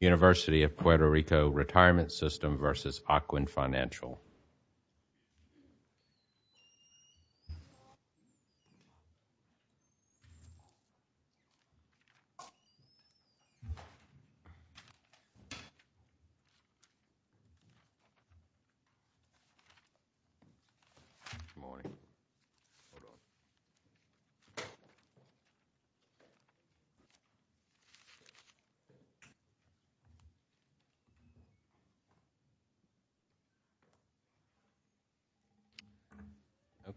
University of Puerto Rico Retirement System v. Ocwen Financial Corporation.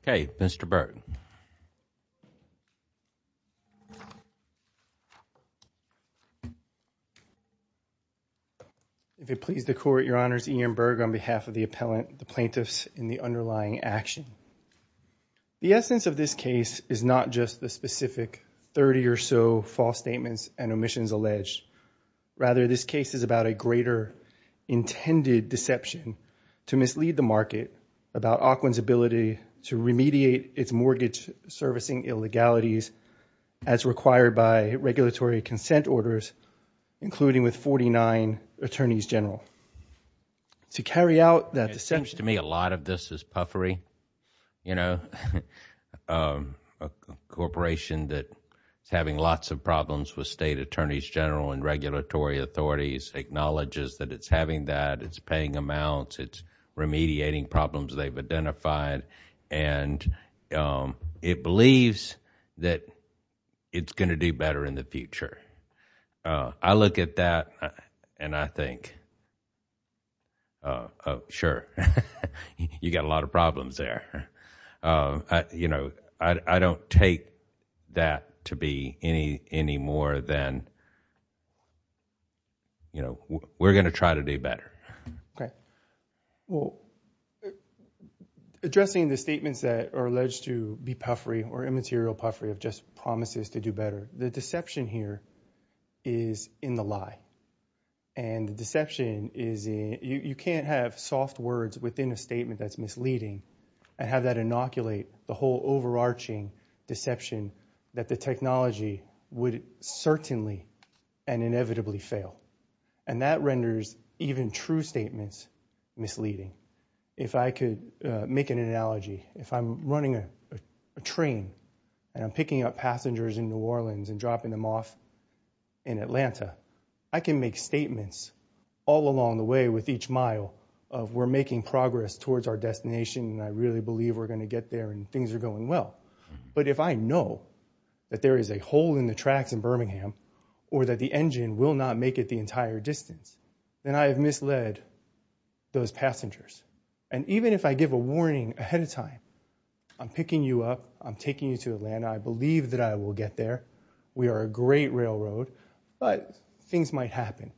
Okay, Mr. Berg. If it pleases the court, your honors, Ian Berg on behalf of the appellant, the plaintiffs and the underlying action. The essence of this case is not just the specific 30 or so false statements and omissions alleged. Rather, this case is about a greater intended deception to mislead the market about Auckland's ability to remediate its mortgage servicing illegalities as required by regulatory consent orders, including with 49 attorneys general. To carry out that deception... It's a corporation that is having lots of problems with state attorneys general and regulatory authorities, acknowledges that it's having that, it's paying amounts, it's remediating problems they've identified, and it believes that it's going to do better in the future. I look at that and I think, sure, you've got a lot of problems there. I don't take that to be any more than, we're going to try to do better. Addressing the statements that are alleged to be puffery or immaterial puffery of just promises to do better, the deception here is in the lie. The deception is in... You can't have soft words within a statement that's misleading and have that inoculate the whole overarching deception that the technology would certainly and inevitably fail. That renders even true statements misleading. If I could make an analogy, if I'm running a train and I'm picking up passengers in New Orleans and dropping them off in Atlanta, I can make statements all along the way with each mile of, we're making progress towards our destination and I really believe we're going to get there and things are going well. But if I know that there is a hole in the tracks in Birmingham or that the engine will not make it the entire distance, then I have misled those passengers. And even if I give a warning ahead of time, I'm picking you up, I'm taking you to Atlanta, I believe that I will get there, we are a great railroad, but things might happen.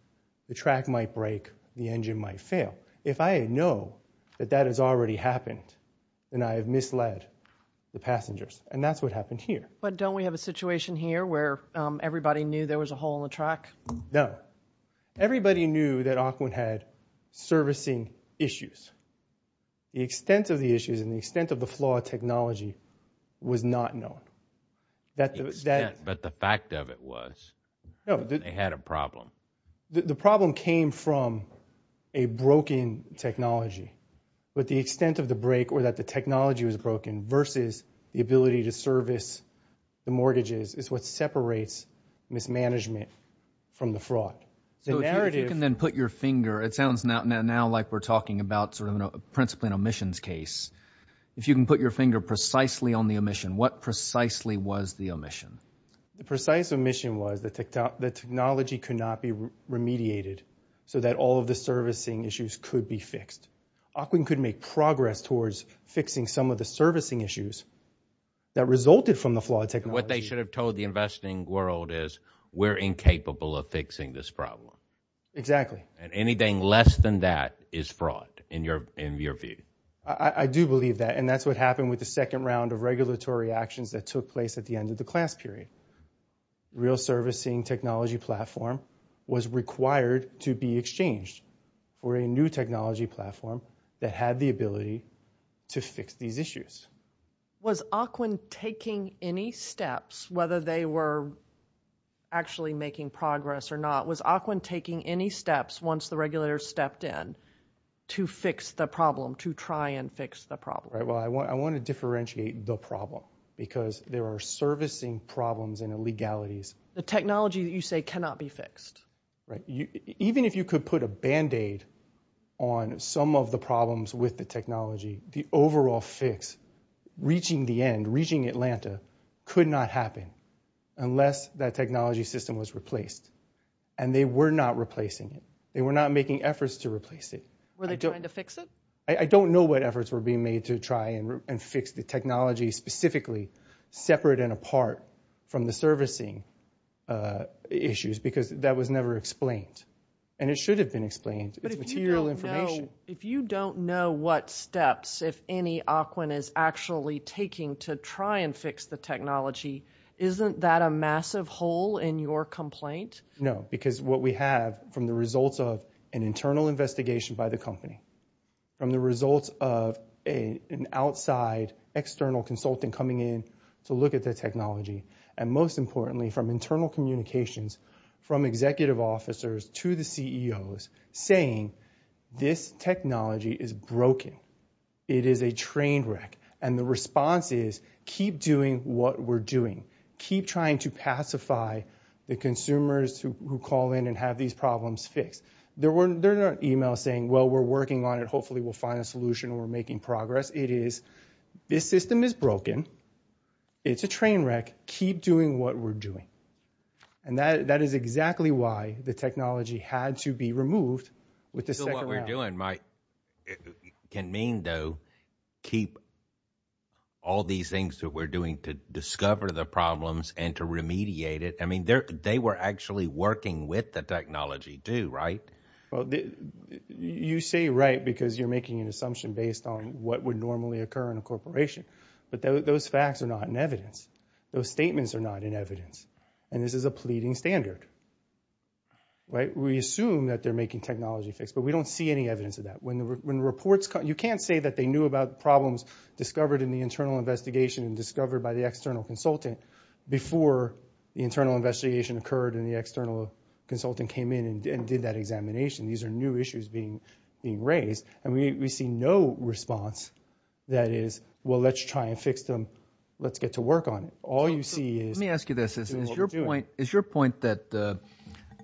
The track might break, the engine might fail. If I know that that has already happened, then I have misled the passengers and that's what happened here. But don't we have a situation here where everybody knew there was a hole in the track? No. Everybody knew that Auckland had servicing issues. The extent of the issues and the extent of the flaw of technology was not known. But the fact of it was they had a problem. The problem came from a broken technology. But the extent of the break or that the technology was broken versus the ability to service the mortgages is what separates mismanagement from the fraud. So if you can then put your finger, it sounds now like we're talking about principally an omissions case. If you can put your finger precisely on the omission, what precisely was the omission? The precise omission was that technology could not be remediated so that all of the servicing issues could be fixed. Auckland could make progress towards fixing some of the servicing issues that resulted from the flawed technology. What they should have told the investing world is we're incapable of fixing this problem. Exactly. And anything less than that is fraud in your view. I do believe that. And that's what happened with the second round of regulatory actions that took place at the end of the class period. Real servicing technology platform was required to be exchanged for a new technology platform that had the ability to fix these issues. Was Auckland taking any steps, whether they were actually making progress or not, was Auckland taking any steps once the regulators stepped in to fix the problem, to try and fix the problem? Well, I want to differentiate the problem because there are servicing problems and illegalities. The technology that you say cannot be fixed. Even if you could put a band-aid on some of the problems with the technology, the overall fix reaching the end, reaching Atlanta could not happen unless that technology system was replaced. And they were not replacing it. They were not making efforts to replace it. Were they trying to fix it? I don't know what efforts were being made to try and fix the technology, specifically separate and apart from the servicing issues because that was never explained. And it should have been explained. It's material information. But if you don't know what steps, if any, Auckland is actually taking to try and fix the technology, isn't that a massive hole in your complaint? No, because what we have from the results of an internal investigation by the company, from the results of an outside external consultant coming in to look at the technology, and most importantly from internal communications from executive officers to the CEOs saying this technology is broken. It is a train wreck. And the response is keep doing what we're doing. Keep trying to pacify the consumers who call in and have these problems fixed. There were emails saying, well, we're working on it. Hopefully we'll find a solution. We're making progress. It is, this system is broken. It's a train wreck. Keep doing what we're doing. And that is exactly why the technology had to be removed with the second round. So what we're doing might, can mean though, keep all these things that we're doing to discover the problems and to remediate it. I mean, they were actually working with the technology too, right? You say right because you're making an assumption based on what would normally occur in a corporation. But those facts are not in evidence. Those statements are not in evidence. And this is a pleading standard. We assume that they're making technology fixed, but we don't see any evidence of that. When reports come, you can't say that they knew about problems discovered in the internal investigation and discovered by the external consultant before the internal investigation occurred and the external consultant came in and did that examination. These are new issues being raised. And we see no response that is, well, let's try and fix them. Let's get to work on it. All you see is... Let me ask you this. Is your point that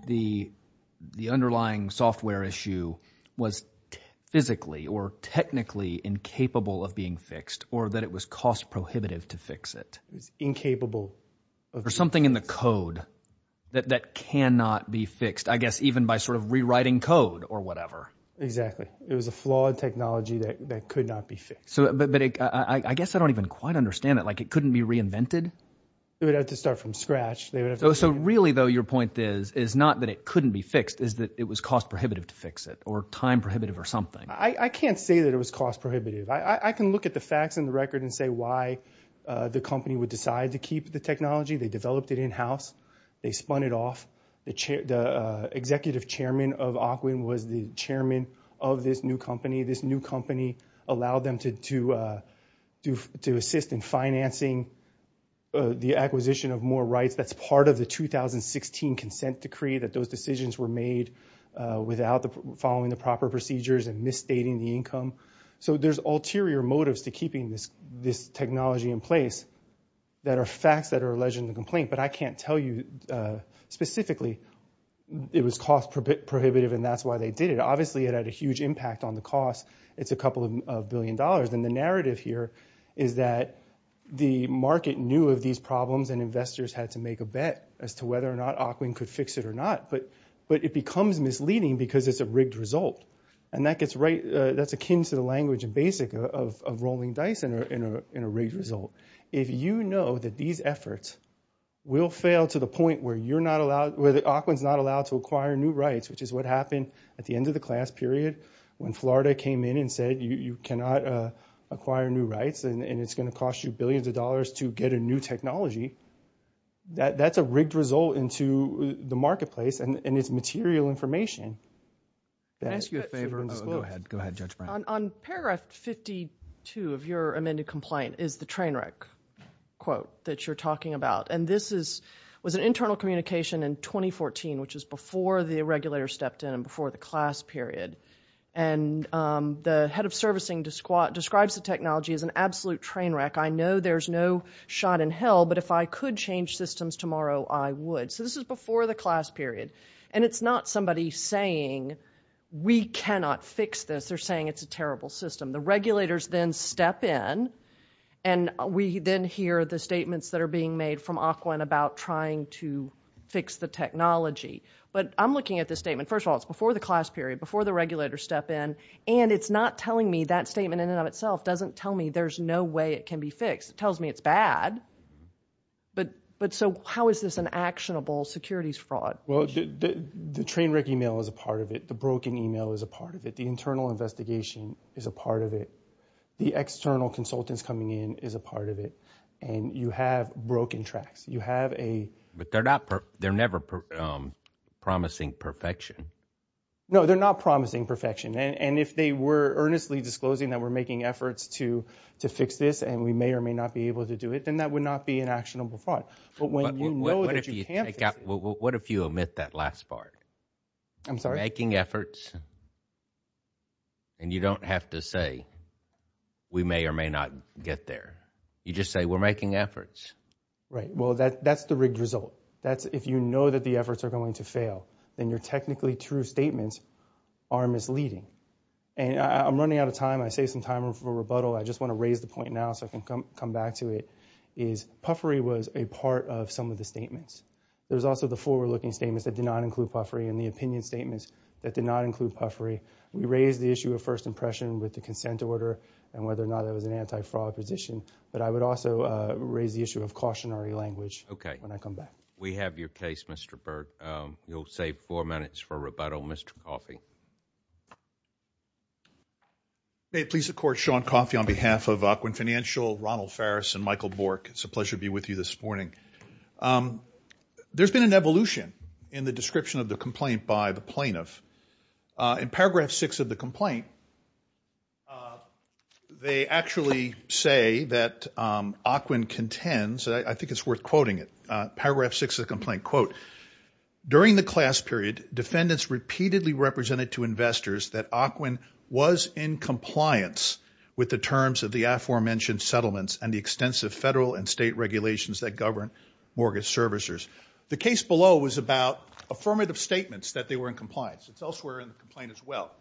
the underlying software issue was physically or technically incapable of being fixed or that it was cost prohibitive to fix it? Incapable. Or something in the code that cannot be fixed, I guess, even by sort of rewriting code or whatever. Exactly. It was a flawed technology that could not be fixed. So, but I guess I don't even quite understand it. Like it couldn't be reinvented? It would have to start from scratch. So really, though, your point is, is not that it couldn't be fixed, is that it was cost prohibitive to fix it or time prohibitive or something. I can't say that it was cost prohibitive. I can look at the facts in the record and say why the company would decide to keep the technology. They developed it in-house. They spun it off. The executive chairman of Ocwin was the chairman of this new company. This new company allowed them to assist in financing the acquisition of more rights. That's part of the 2016 consent decree that those decisions were made without following So there's ulterior motives to keeping this technology in place that are facts that are alleged in the complaint. But I can't tell you specifically it was cost prohibitive and that's why they did it. Obviously, it had a huge impact on the cost. It's a couple of billion dollars. And the narrative here is that the market knew of these problems and investors had to make a bet as to whether or not Ocwin could fix it or not. But it becomes misleading because it's a rigged result. And that's akin to the language and basic of rolling dice in a rigged result. If you know that these efforts will fail to the point where Ocwin's not allowed to acquire new rights, which is what happened at the end of the class period when Florida came in and said you cannot acquire new rights and it's going to cost you billions of dollars to get a new technology, that's a rigged result into the marketplace and it's material information that's misleading. Can I ask you a favor? Go ahead. Go ahead, Judge Brown. On paragraph 52 of your amended complaint is the train wreck quote that you're talking about. And this was an internal communication in 2014, which is before the regulator stepped in and before the class period. And the head of servicing describes the technology as an absolute train wreck. I know there's no shot in hell, but if I could change systems tomorrow, I would. So this is before the class period. And it's not somebody saying we cannot fix this. They're saying it's a terrible system. The regulators then step in and we then hear the statements that are being made from Ocwin about trying to fix the technology. But I'm looking at this statement. First of all, it's before the class period, before the regulators step in, and it's not telling me that statement in and of itself doesn't tell me there's no way it can be fixed. It tells me it's bad. But so how is this an actionable securities fraud? Well, the train wreck email is a part of it. The broken email is a part of it. The internal investigation is a part of it. The external consultants coming in is a part of it. And you have broken tracks. You have a... But they're not... They're never promising perfection. No, they're not promising perfection. And if they were earnestly disclosing that we're making efforts to fix this and we may or may not be able to do it, then that would not be an actionable fraud. But when you know that you can fix it... What if you omit that last part? I'm sorry? Making efforts and you don't have to say we may or may not get there. You just say we're making efforts. Right. Well, that's the rigged result. If you know that the efforts are going to fail, then your technically true statements are misleading. And I'm running out of time. I saved some time for rebuttal. I just want to raise the point now so I can come back to it. Puffery was a part of some of the statements. There's also the forward-looking statements that did not include puffery and the opinion statements that did not include puffery. We raised the issue of first impression with the consent order and whether or not it was an anti-fraud position. But I would also raise the issue of cautionary language when I come back. We have your case, Mr. Berg. You'll save four minutes for rebuttal. Mr. Coffey. May it please the Court, Sean Coffey on behalf of Aquin Financial, Ronald Farris, and Michael Bork, it's a pleasure to be with you this morning. There's been an evolution in the description of the complaint by the plaintiff. In paragraph six of the complaint, they actually say that Aquin contends, I think it's worth quoting it, paragraph six of the complaint, quote, during the class period, defendants repeatedly represented to investors that Aquin was in compliance with the terms of the aforementioned settlements and the extensive federal and state regulations that govern mortgage servicers. The case below was about affirmative statements that they were in compliance. It's elsewhere in the complaint as well.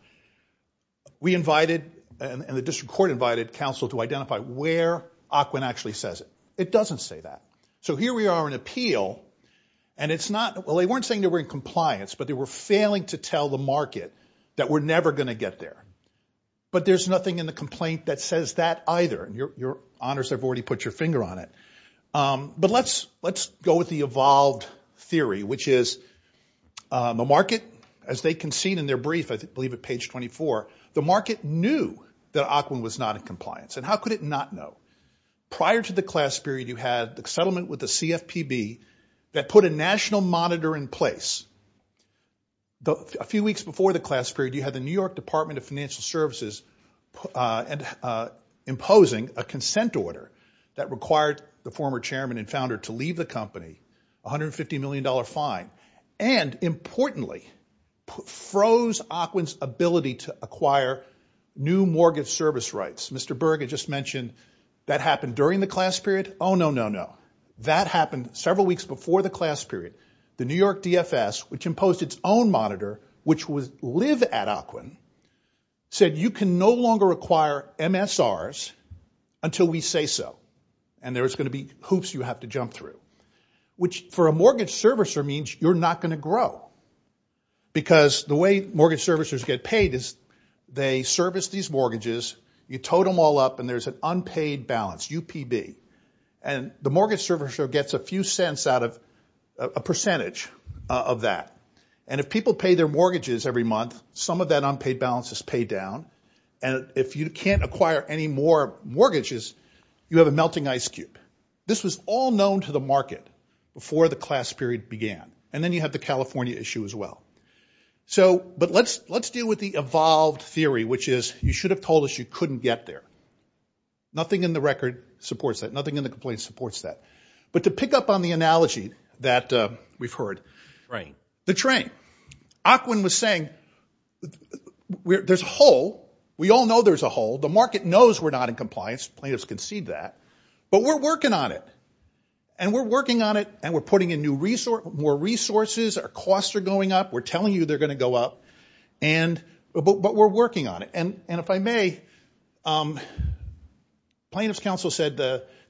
We invited, and the district court invited, counsel to identify where Aquin actually says it. It doesn't say that. So here we are in appeal, and it's not, well, they weren't saying they were in compliance, but they were failing to tell the market that we're never going to get there. But there's nothing in the complaint that says that either. And your honors have already put your finger on it. But let's go with the evolved theory, which is the market, as they conceded in their brief, I believe at page 24, the market knew that Aquin was not in compliance, and how could it not know? Prior to the class period, you had the settlement with the CFPB that put a national monitor in place. A few weeks before the class period, you had the New York Department of Financial Services imposing a consent order that required the former chairman and founder to leave the company, $150 million fine, and importantly, froze Aquin's ability to acquire new mortgage service rights. Mr. Berg had just mentioned that happened during the class period. Oh, no, no, no. That happened several weeks before the class period. The New York DFS, which imposed its own monitor, which was live at Aquin, said you can no longer acquire MSRs until we say so. And there's going to be hoops you have to jump through, which for a mortgage servicer means you're not going to grow. Because the way mortgage servicers get paid is they service these mortgages, you total them all up, and there's an unpaid balance, UPB. And the mortgage servicer gets a few cents out of a percentage of that. And if people pay their mortgages every month, some of that unpaid balance is paid down. And if you can't acquire any more mortgages, you have a melting ice cube. This was all known to the market before the class period began. And then you have the California issue as well. So, but let's deal with the evolved theory, which is you should have told us you couldn't get there. Nothing in the record supports that. Nothing in the complaint supports that. But to pick up on the analogy that we've heard, the train. Aquin was saying there's a hole. We all know there's a hole. The market knows we're not in compliance. Plaintiffs concede that. But we're working on it. And we're working on it, and we're putting in more resources. Our costs are going up. We're telling you they're going to go up. And, but we're working on it. And if I may, plaintiff's counsel said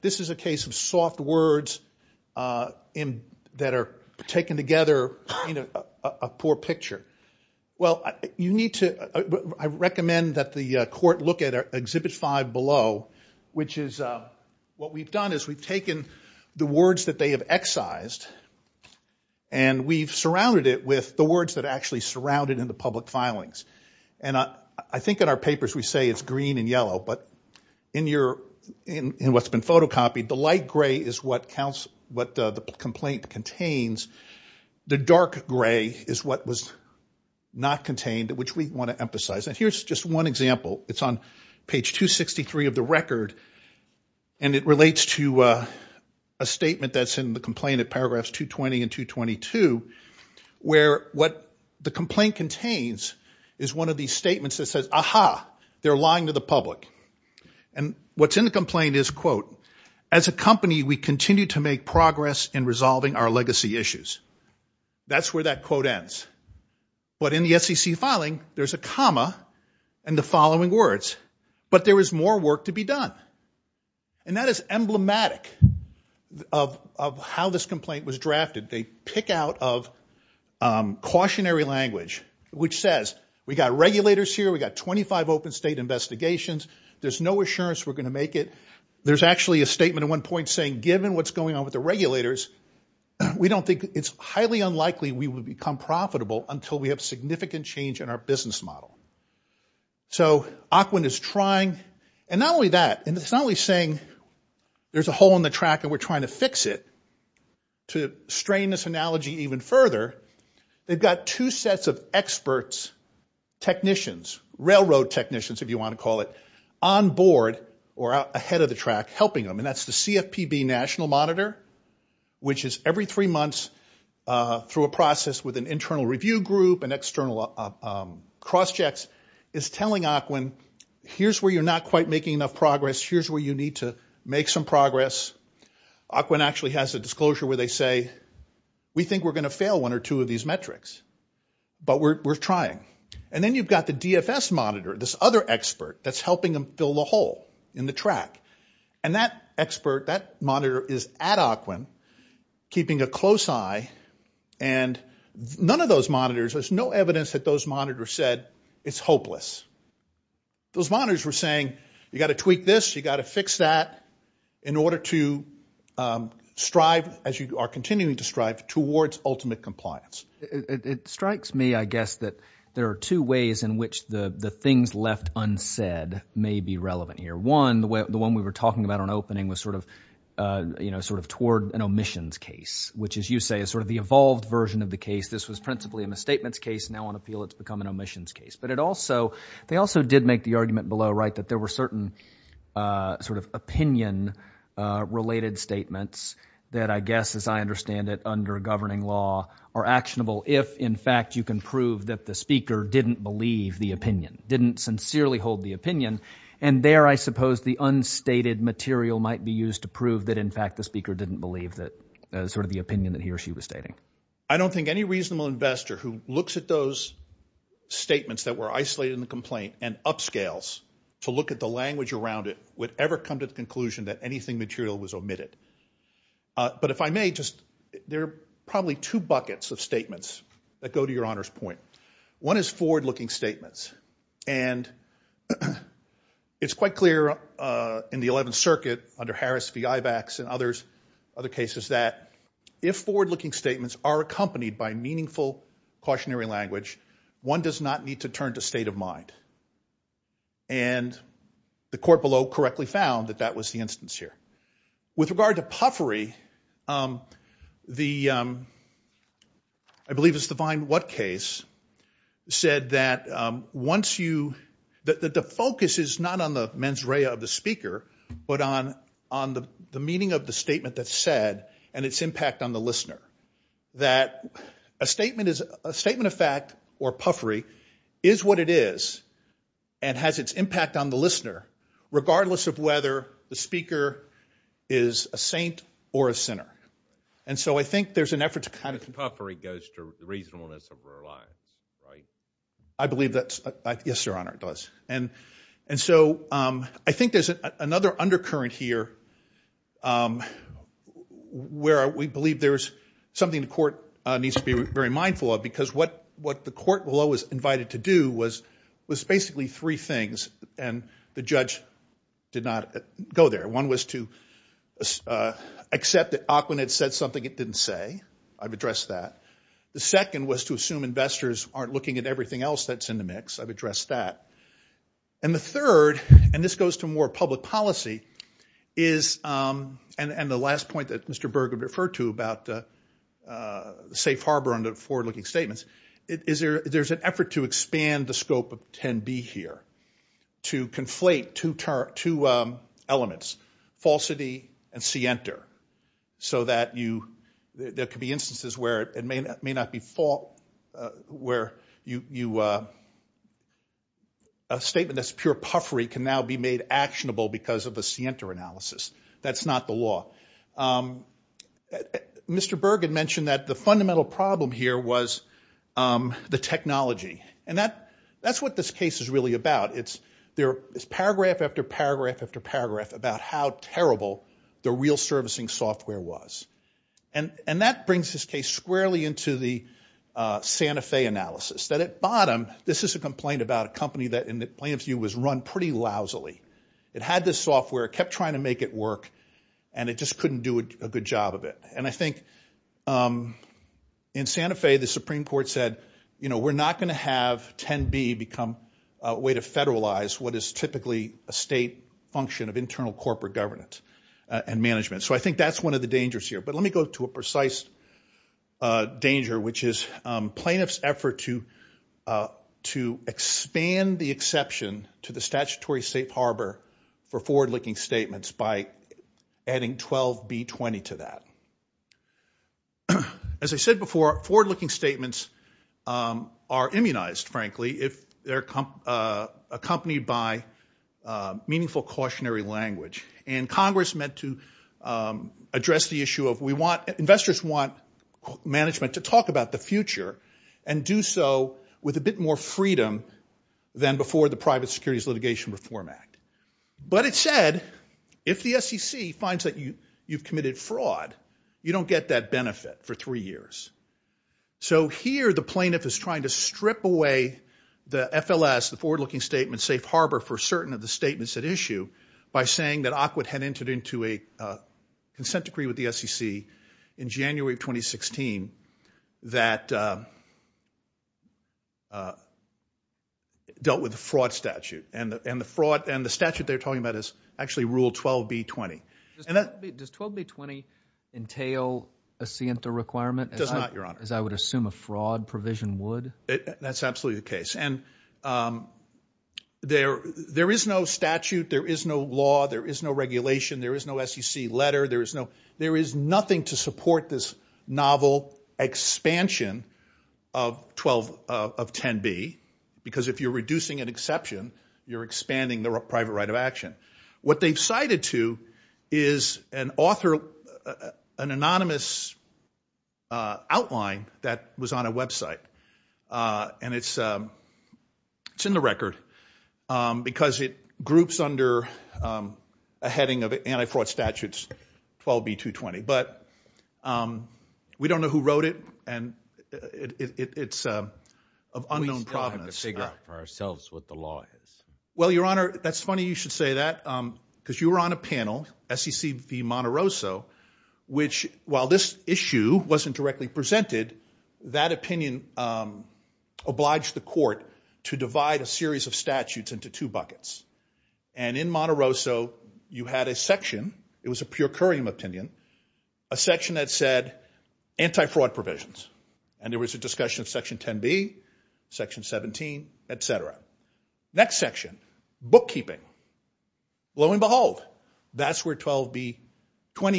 this is a case of soft words that are taken together, a poor picture. Well, you need to, I recommend that the court look at exhibit five below, which is, what we've done is we've taken the words that they have excised, and we've surrounded it with the words that actually surrounded in the public filings. And I think in our papers we say it's green and yellow. But in your, in what's been photocopied, the light gray is what counts, what the complaint contains. The dark gray is what was not contained, which we want to emphasize. And here's just one example. It's on page 263 of the record, and it relates to a statement that's in the complaint at paragraphs 220 and 222, where what the complaint contains is one of these statements that says, aha, they're lying to the public. And what's in the complaint is, quote, as a company, we continue to make progress in resolving our legacy issues. That's where that quote ends. But in the SEC filing, there's a comma and the following words, but there is more work to be done. And that is emblematic of how this complaint was drafted. They pick out of cautionary language, which says we've got regulators here, we've got 25 open state investigations, there's no assurance we're going to make it. There's actually a statement at one point saying given what's going on with the regulators, we don't think it's highly unlikely we will become profitable until we have significant change in our business model. So Ocwin is trying, and not only that, and it's not only saying there's a hole in the track and we're trying to fix it. To strain this analogy even further, they've got two sets of experts, technicians, railroad technicians, if you want to call it, on board or ahead of the track helping them. And that's the CFPB National Monitor, which is every three months through a process with an internal review group, an external cross checks, is telling Ocwin here's where you're not quite making enough progress, here's where you need to make some progress. Ocwin actually has a disclosure where they say we think we're going to fail one or two of these metrics, but we're trying. And then you've got the DFS monitor, this other expert that's helping them fill the hole in the track. And that expert, that monitor is at Ocwin keeping a close eye, and none of those monitors, there's no evidence that those monitors said it's hopeless. Those monitors were saying you've got to tweak this, you've got to fix that in order to strive, as you are continuing to strive, towards ultimate compliance. It strikes me, I guess, that there are two ways in which the things left unsaid may be relevant here. One, the one we were talking about on opening was sort of toward an omissions case, which, as you say, is sort of the evolved version of the case. This was principally a misstatements case, now on appeal it's become an omissions case. But it also, they also did make the argument below, right, that there were certain sort of opinion-related statements that I guess, as I understand it, under governing law are actionable if, in fact, you can prove that the speaker didn't believe the opinion, didn't sincerely hold the opinion. And there, I suppose, the unstated material might be used to prove that, in fact, the speaker didn't believe that sort of the opinion that he or she was stating. I don't think any reasonable investor who looks at those statements that were isolated in the complaint and upscales to look at the language around it would ever come to the conclusion that anything material was omitted. But if I may, just, there are probably two buckets of statements that go to your Honor's point. One is forward-looking statements. And it's quite clear in the 11th Circuit under Harris v. Ibex and others, other cases, that if forward-looking statements are accompanied by meaningful cautionary language, one does not need to turn to state of mind. And the court below correctly found that that was the instance here. With regard to puffery, the, I believe it's the Vinewood case, said that once you, that the focus is not on the mens rea of the speaker, but on the meaning of the statement that's said and its impact on the listener, that a statement of fact or puffery is what it is and has its impact on the listener, regardless of whether the speaker is a saint or a sinner. And so I think there's an effort to kind of- Puffery goes to reasonableness of our lives, right? I believe that's, yes, Your Honor, it does. And so I think there's another undercurrent here where we believe there's something the court needs to be very mindful of, because what the court below was invited to do was basically three things, and the judge did not go there. One was to accept that Ackman had said something it didn't say. I've addressed that. The second was to assume investors aren't looking at everything else that's in the mix. I've addressed that. And the third, and this goes to more public policy, is, and the last point that Mr. Berg referred to about the safe harbor under forward-looking statements, is there's an effort to expand the scope of 10B here, to conflate two elements, falsity and scienter, so that there could be instances where it may not be false, where a statement that's pure puffery can now be made actionable because of a scienter analysis. That's not the law. Mr. Berg had mentioned that the fundamental problem here was the technology. And that's what this case is really about. It's paragraph after paragraph after paragraph about how terrible the real servicing software was. And that brings this case squarely into the Santa Fe analysis, that at bottom, this is a complaint about a company that, in the plaintiff's view, was run pretty lousily. It had this software, kept trying to make it work, and it just couldn't do a good job of it. And I think in Santa Fe, the Supreme Court said, you know, we're not going to have 10B become a way to federalize what is typically a state function of internal corporate governance and management. So I think that's one of the dangers here. But let me go to a precise danger, which is plaintiff's effort to expand the exception to the statutory safe harbor for forward-looking statements by adding 12B20 to that. As I said before, forward-looking statements are immunized, frankly, if they're accompanied by meaningful cautionary language. And Congress meant to address the issue of, investors want management to talk about the future and do so with a bit more freedom than before the Private Securities Litigation Reform Act. But it said, if the SEC finds that you've committed fraud, you don't get that benefit for three years. So here, the plaintiff is trying to strip away the FLS, the forward-looking statement safe harbor for certain of the statements at issue by saying that Awkward had entered into a consent decree with the SEC in January of 2016 that dealt with a fraud statute. And the fraud and the statute they're talking about is actually Rule 12B20. Does 12B20 entail a SIENTA requirement? It does not, Your Honor. As I would assume a fraud provision would? That's absolutely the case. And there is no statute. There is no law. There is no regulation. There is no SEC letter. There is nothing to support this novel expansion of 10B, because if you're reducing an exception, you're expanding the private right of action. What they've cited to is an author, an anonymous outline that was on a website, and it's in the record because it groups under a heading of anti-fraud statutes 12B220. But we don't know who wrote it, and it's of unknown provenance. We still have to figure out for ourselves what the law is. Well, Your Honor, that's funny you should say that, because you were on a panel, SEC v. Monterosso, which while this issue wasn't directly presented, that opinion obliged the court to divide a series of statutes into two buckets. And in Monterosso, you had a section. It was a pure currium opinion, a section that said anti-fraud provisions, and there was a discussion of Section 10B, Section 17, et cetera. Next section, bookkeeping. Lo and behold, that's where 12B20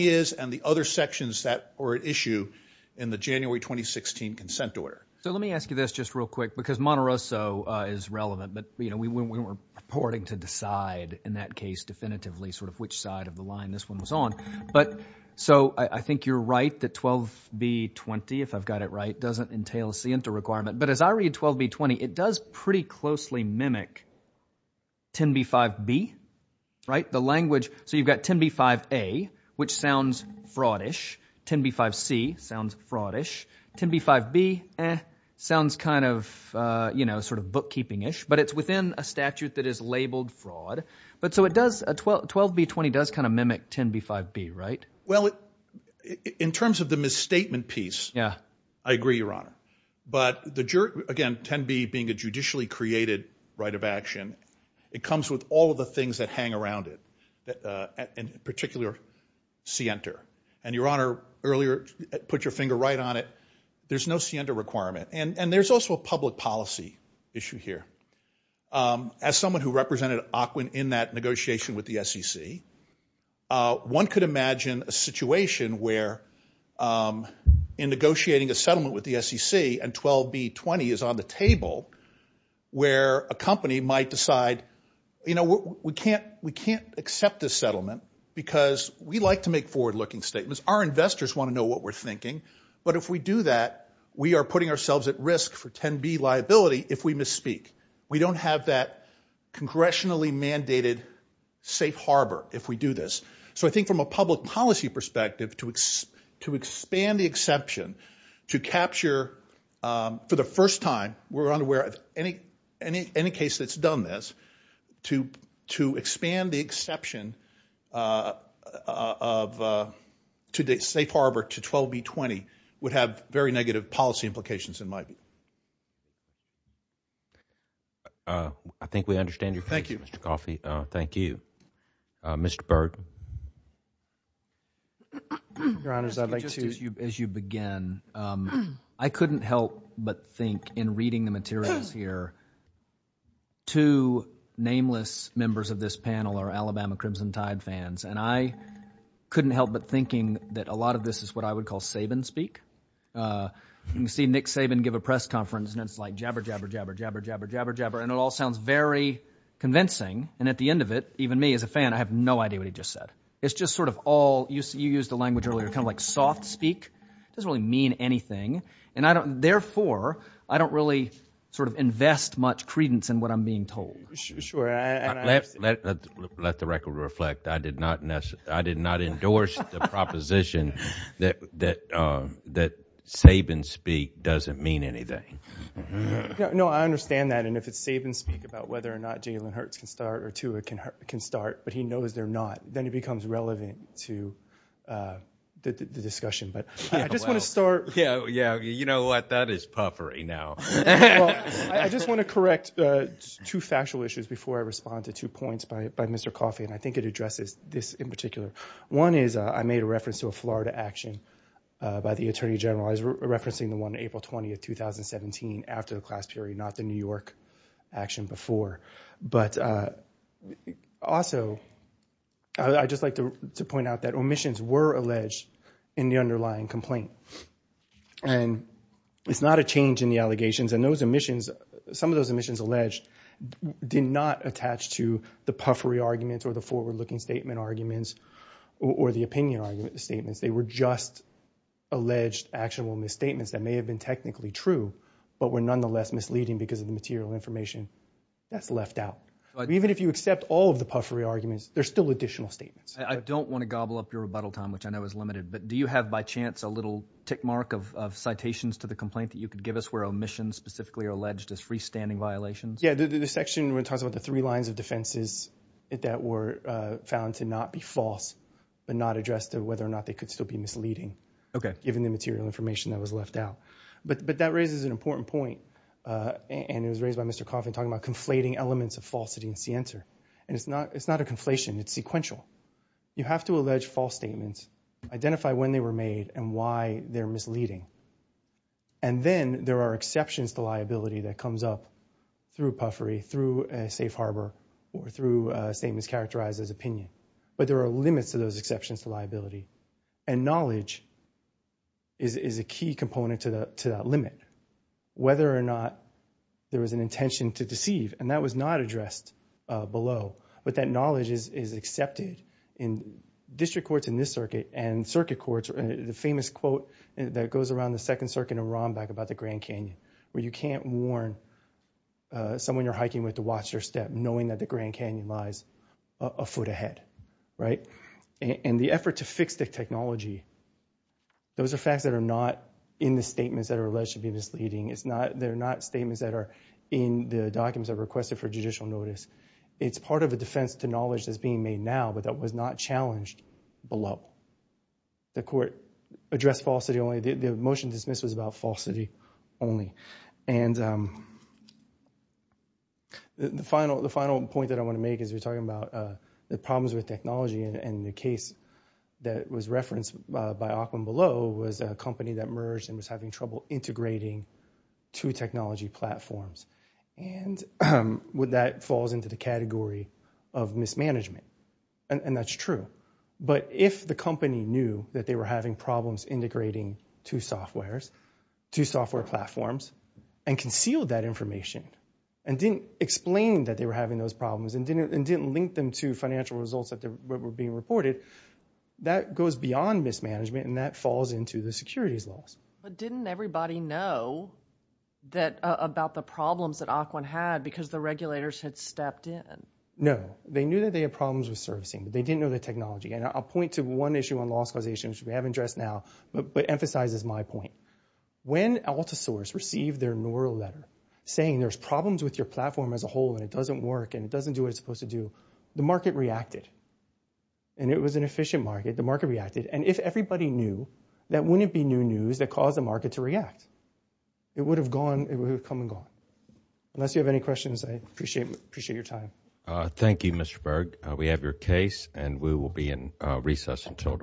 is and the other sections that were at issue in the January 2016 consent order. So let me ask you this just real quick because Monterosso is relevant, but we weren't reporting to decide in that case definitively sort of which side of the line this one was on. But so I think you're right that 12B20, if I've got it right, doesn't entail a scienta requirement. But as I read 12B20, it does pretty closely mimic 10B5B, right, the language. So you've got 10B5A, which sounds fraudish. 10B5C sounds fraudish. 10B5B sounds kind of, you know, sort of bookkeeping-ish, but it's within a statute that is labeled fraud. But so it does, 12B20 does kind of mimic 10B5B, right? Well, in terms of the misstatement piece, I agree, Your Honor. But the jury, again, 10B being a judicially created right of action, it comes with all of the things that hang around it, in particular scienta. And, Your Honor, earlier, put your finger right on it, there's no scienta requirement. And there's also a public policy issue here. As someone who represented OCWIN in that negotiation with the SEC, one could imagine a situation where in negotiating a settlement with the SEC and 12B20 is on the table where a company might decide, you know, we can't accept this settlement because we like to make forward-looking statements. Our investors want to know what we're thinking. But if we do that, we are putting ourselves at risk for 10B liability if we misspeak. We don't have that congressionally mandated safe harbor if we do this. So I think from a public policy perspective, to expand the exception to capture, for the first time, we're unaware of any case that's done this, to expand the exception of safe harbor to 12B20 would have very negative policy implications in my view. I think we understand your position, Mr. Coffey. Thank you. Mr. Berg. Your Honor, as you begin, I couldn't help but think in reading the materials here, two nameless members of this panel are Alabama Crimson Tide fans, and I couldn't help but thinking that a lot of this is what I would call Saban speak. You can see Nick Saban give a press conference, and it's like jabber, jabber, jabber, jabber, jabber, jabber, jabber, and it all sounds very convincing, and at the end of it, even me as a fan, I have no idea what he just said. It's just sort of all, you used the language earlier, kind of like soft speak. It doesn't really mean anything, and therefore, I don't really sort of invest much credence in what I'm being told. Let the record reflect. I did not endorse the proposition that Saban speak doesn't mean anything. No, I understand that, and if it's Saban speak about whether or not Jalen Hurts can start or Tua can start, but he knows they're not, then it becomes relevant to the discussion, but I just want to start. Yeah, you know what? That is puffery now. I just want to correct two factual issues before I respond to two points by Mr. Coffey, and I think it addresses this in particular. One is I made a reference to a Florida action by the attorney general. I was referencing the one April 20th, 2017 after the class period, not the New York action before, but also I'd just like to point out that omissions were alleged in the underlying complaint, and it's not a change in the allegations, and those omissions, some of those omissions alleged did not attach to the puffery arguments or the forward-looking statement arguments or the opinion statements. They were just alleged actionable misstatements that may have been technically true but were nonetheless misleading because of the material information that's left out. Even if you accept all of the puffery arguments, there's still additional statements. I don't want to gobble up your rebuttal time, which I know is limited, but do you have by chance a little tick mark of citations to the complaint that you could give us where omissions specifically are alleged as freestanding violations? Yeah, the section where it talks about the three lines of defenses that were found to not be false but not addressed to whether or not they could still be misleading given the material information that was left out. But that raises an important point, and it was raised by Mr. Coffey talking about conflating elements of falsity and scienter, and it's not a conflation. It's sequential. You have to allege false statements, identify when they were made, and why they're misleading. And then there are exceptions to liability that comes up through puffery, through Safe Harbor, or through statements characterized as opinion. But there are limits to those exceptions to liability, and knowledge is a key component to that limit. Whether or not there was an intention to deceive, and that was not addressed below, but that knowledge is accepted in district courts in this circuit and circuit courts. The famous quote that goes around the Second Circuit in Rombach about the Grand Canyon where you can't warn someone you're hiking with to watch their step knowing that the Grand Canyon lies a foot ahead, right? And the effort to fix the technology, those are facts that are not in the statements that are alleged to be misleading. They're not statements that are in the documents that are requested for judicial notice. It's part of a defense to knowledge that's being made now, but that was not challenged below. The court addressed falsity only. The motion dismissed was about falsity only. And the final point that I want to make is we're talking about the problems with technology, and the case that was referenced by Auckland Below was a company that merged and was having trouble integrating two technology platforms. And that falls into the category of mismanagement, and that's true. But if the company knew that they were having problems integrating two software platforms and concealed that information and didn't explain that they were having those problems and didn't link them to financial results that were being reported, that goes beyond mismanagement and that falls into the securities laws. But didn't everybody know about the problems that Auckland had because the regulators had stepped in? No. They knew that they had problems with servicing, but they didn't know the technology. And I'll point to one issue on loss causation, which we haven't addressed now, but emphasizes my point. When AltaSource received their neural letter saying there's problems with your platform as a whole and it doesn't work and it doesn't do what it's supposed to do, the market reacted. And it was an efficient market. The market reacted. And if everybody knew, that wouldn't be new news that caused the market to react. It would have come and gone. Unless you have any questions, I appreciate your time. Thank you, Mr. Berg. We have your case, and we will be in recess until tomorrow.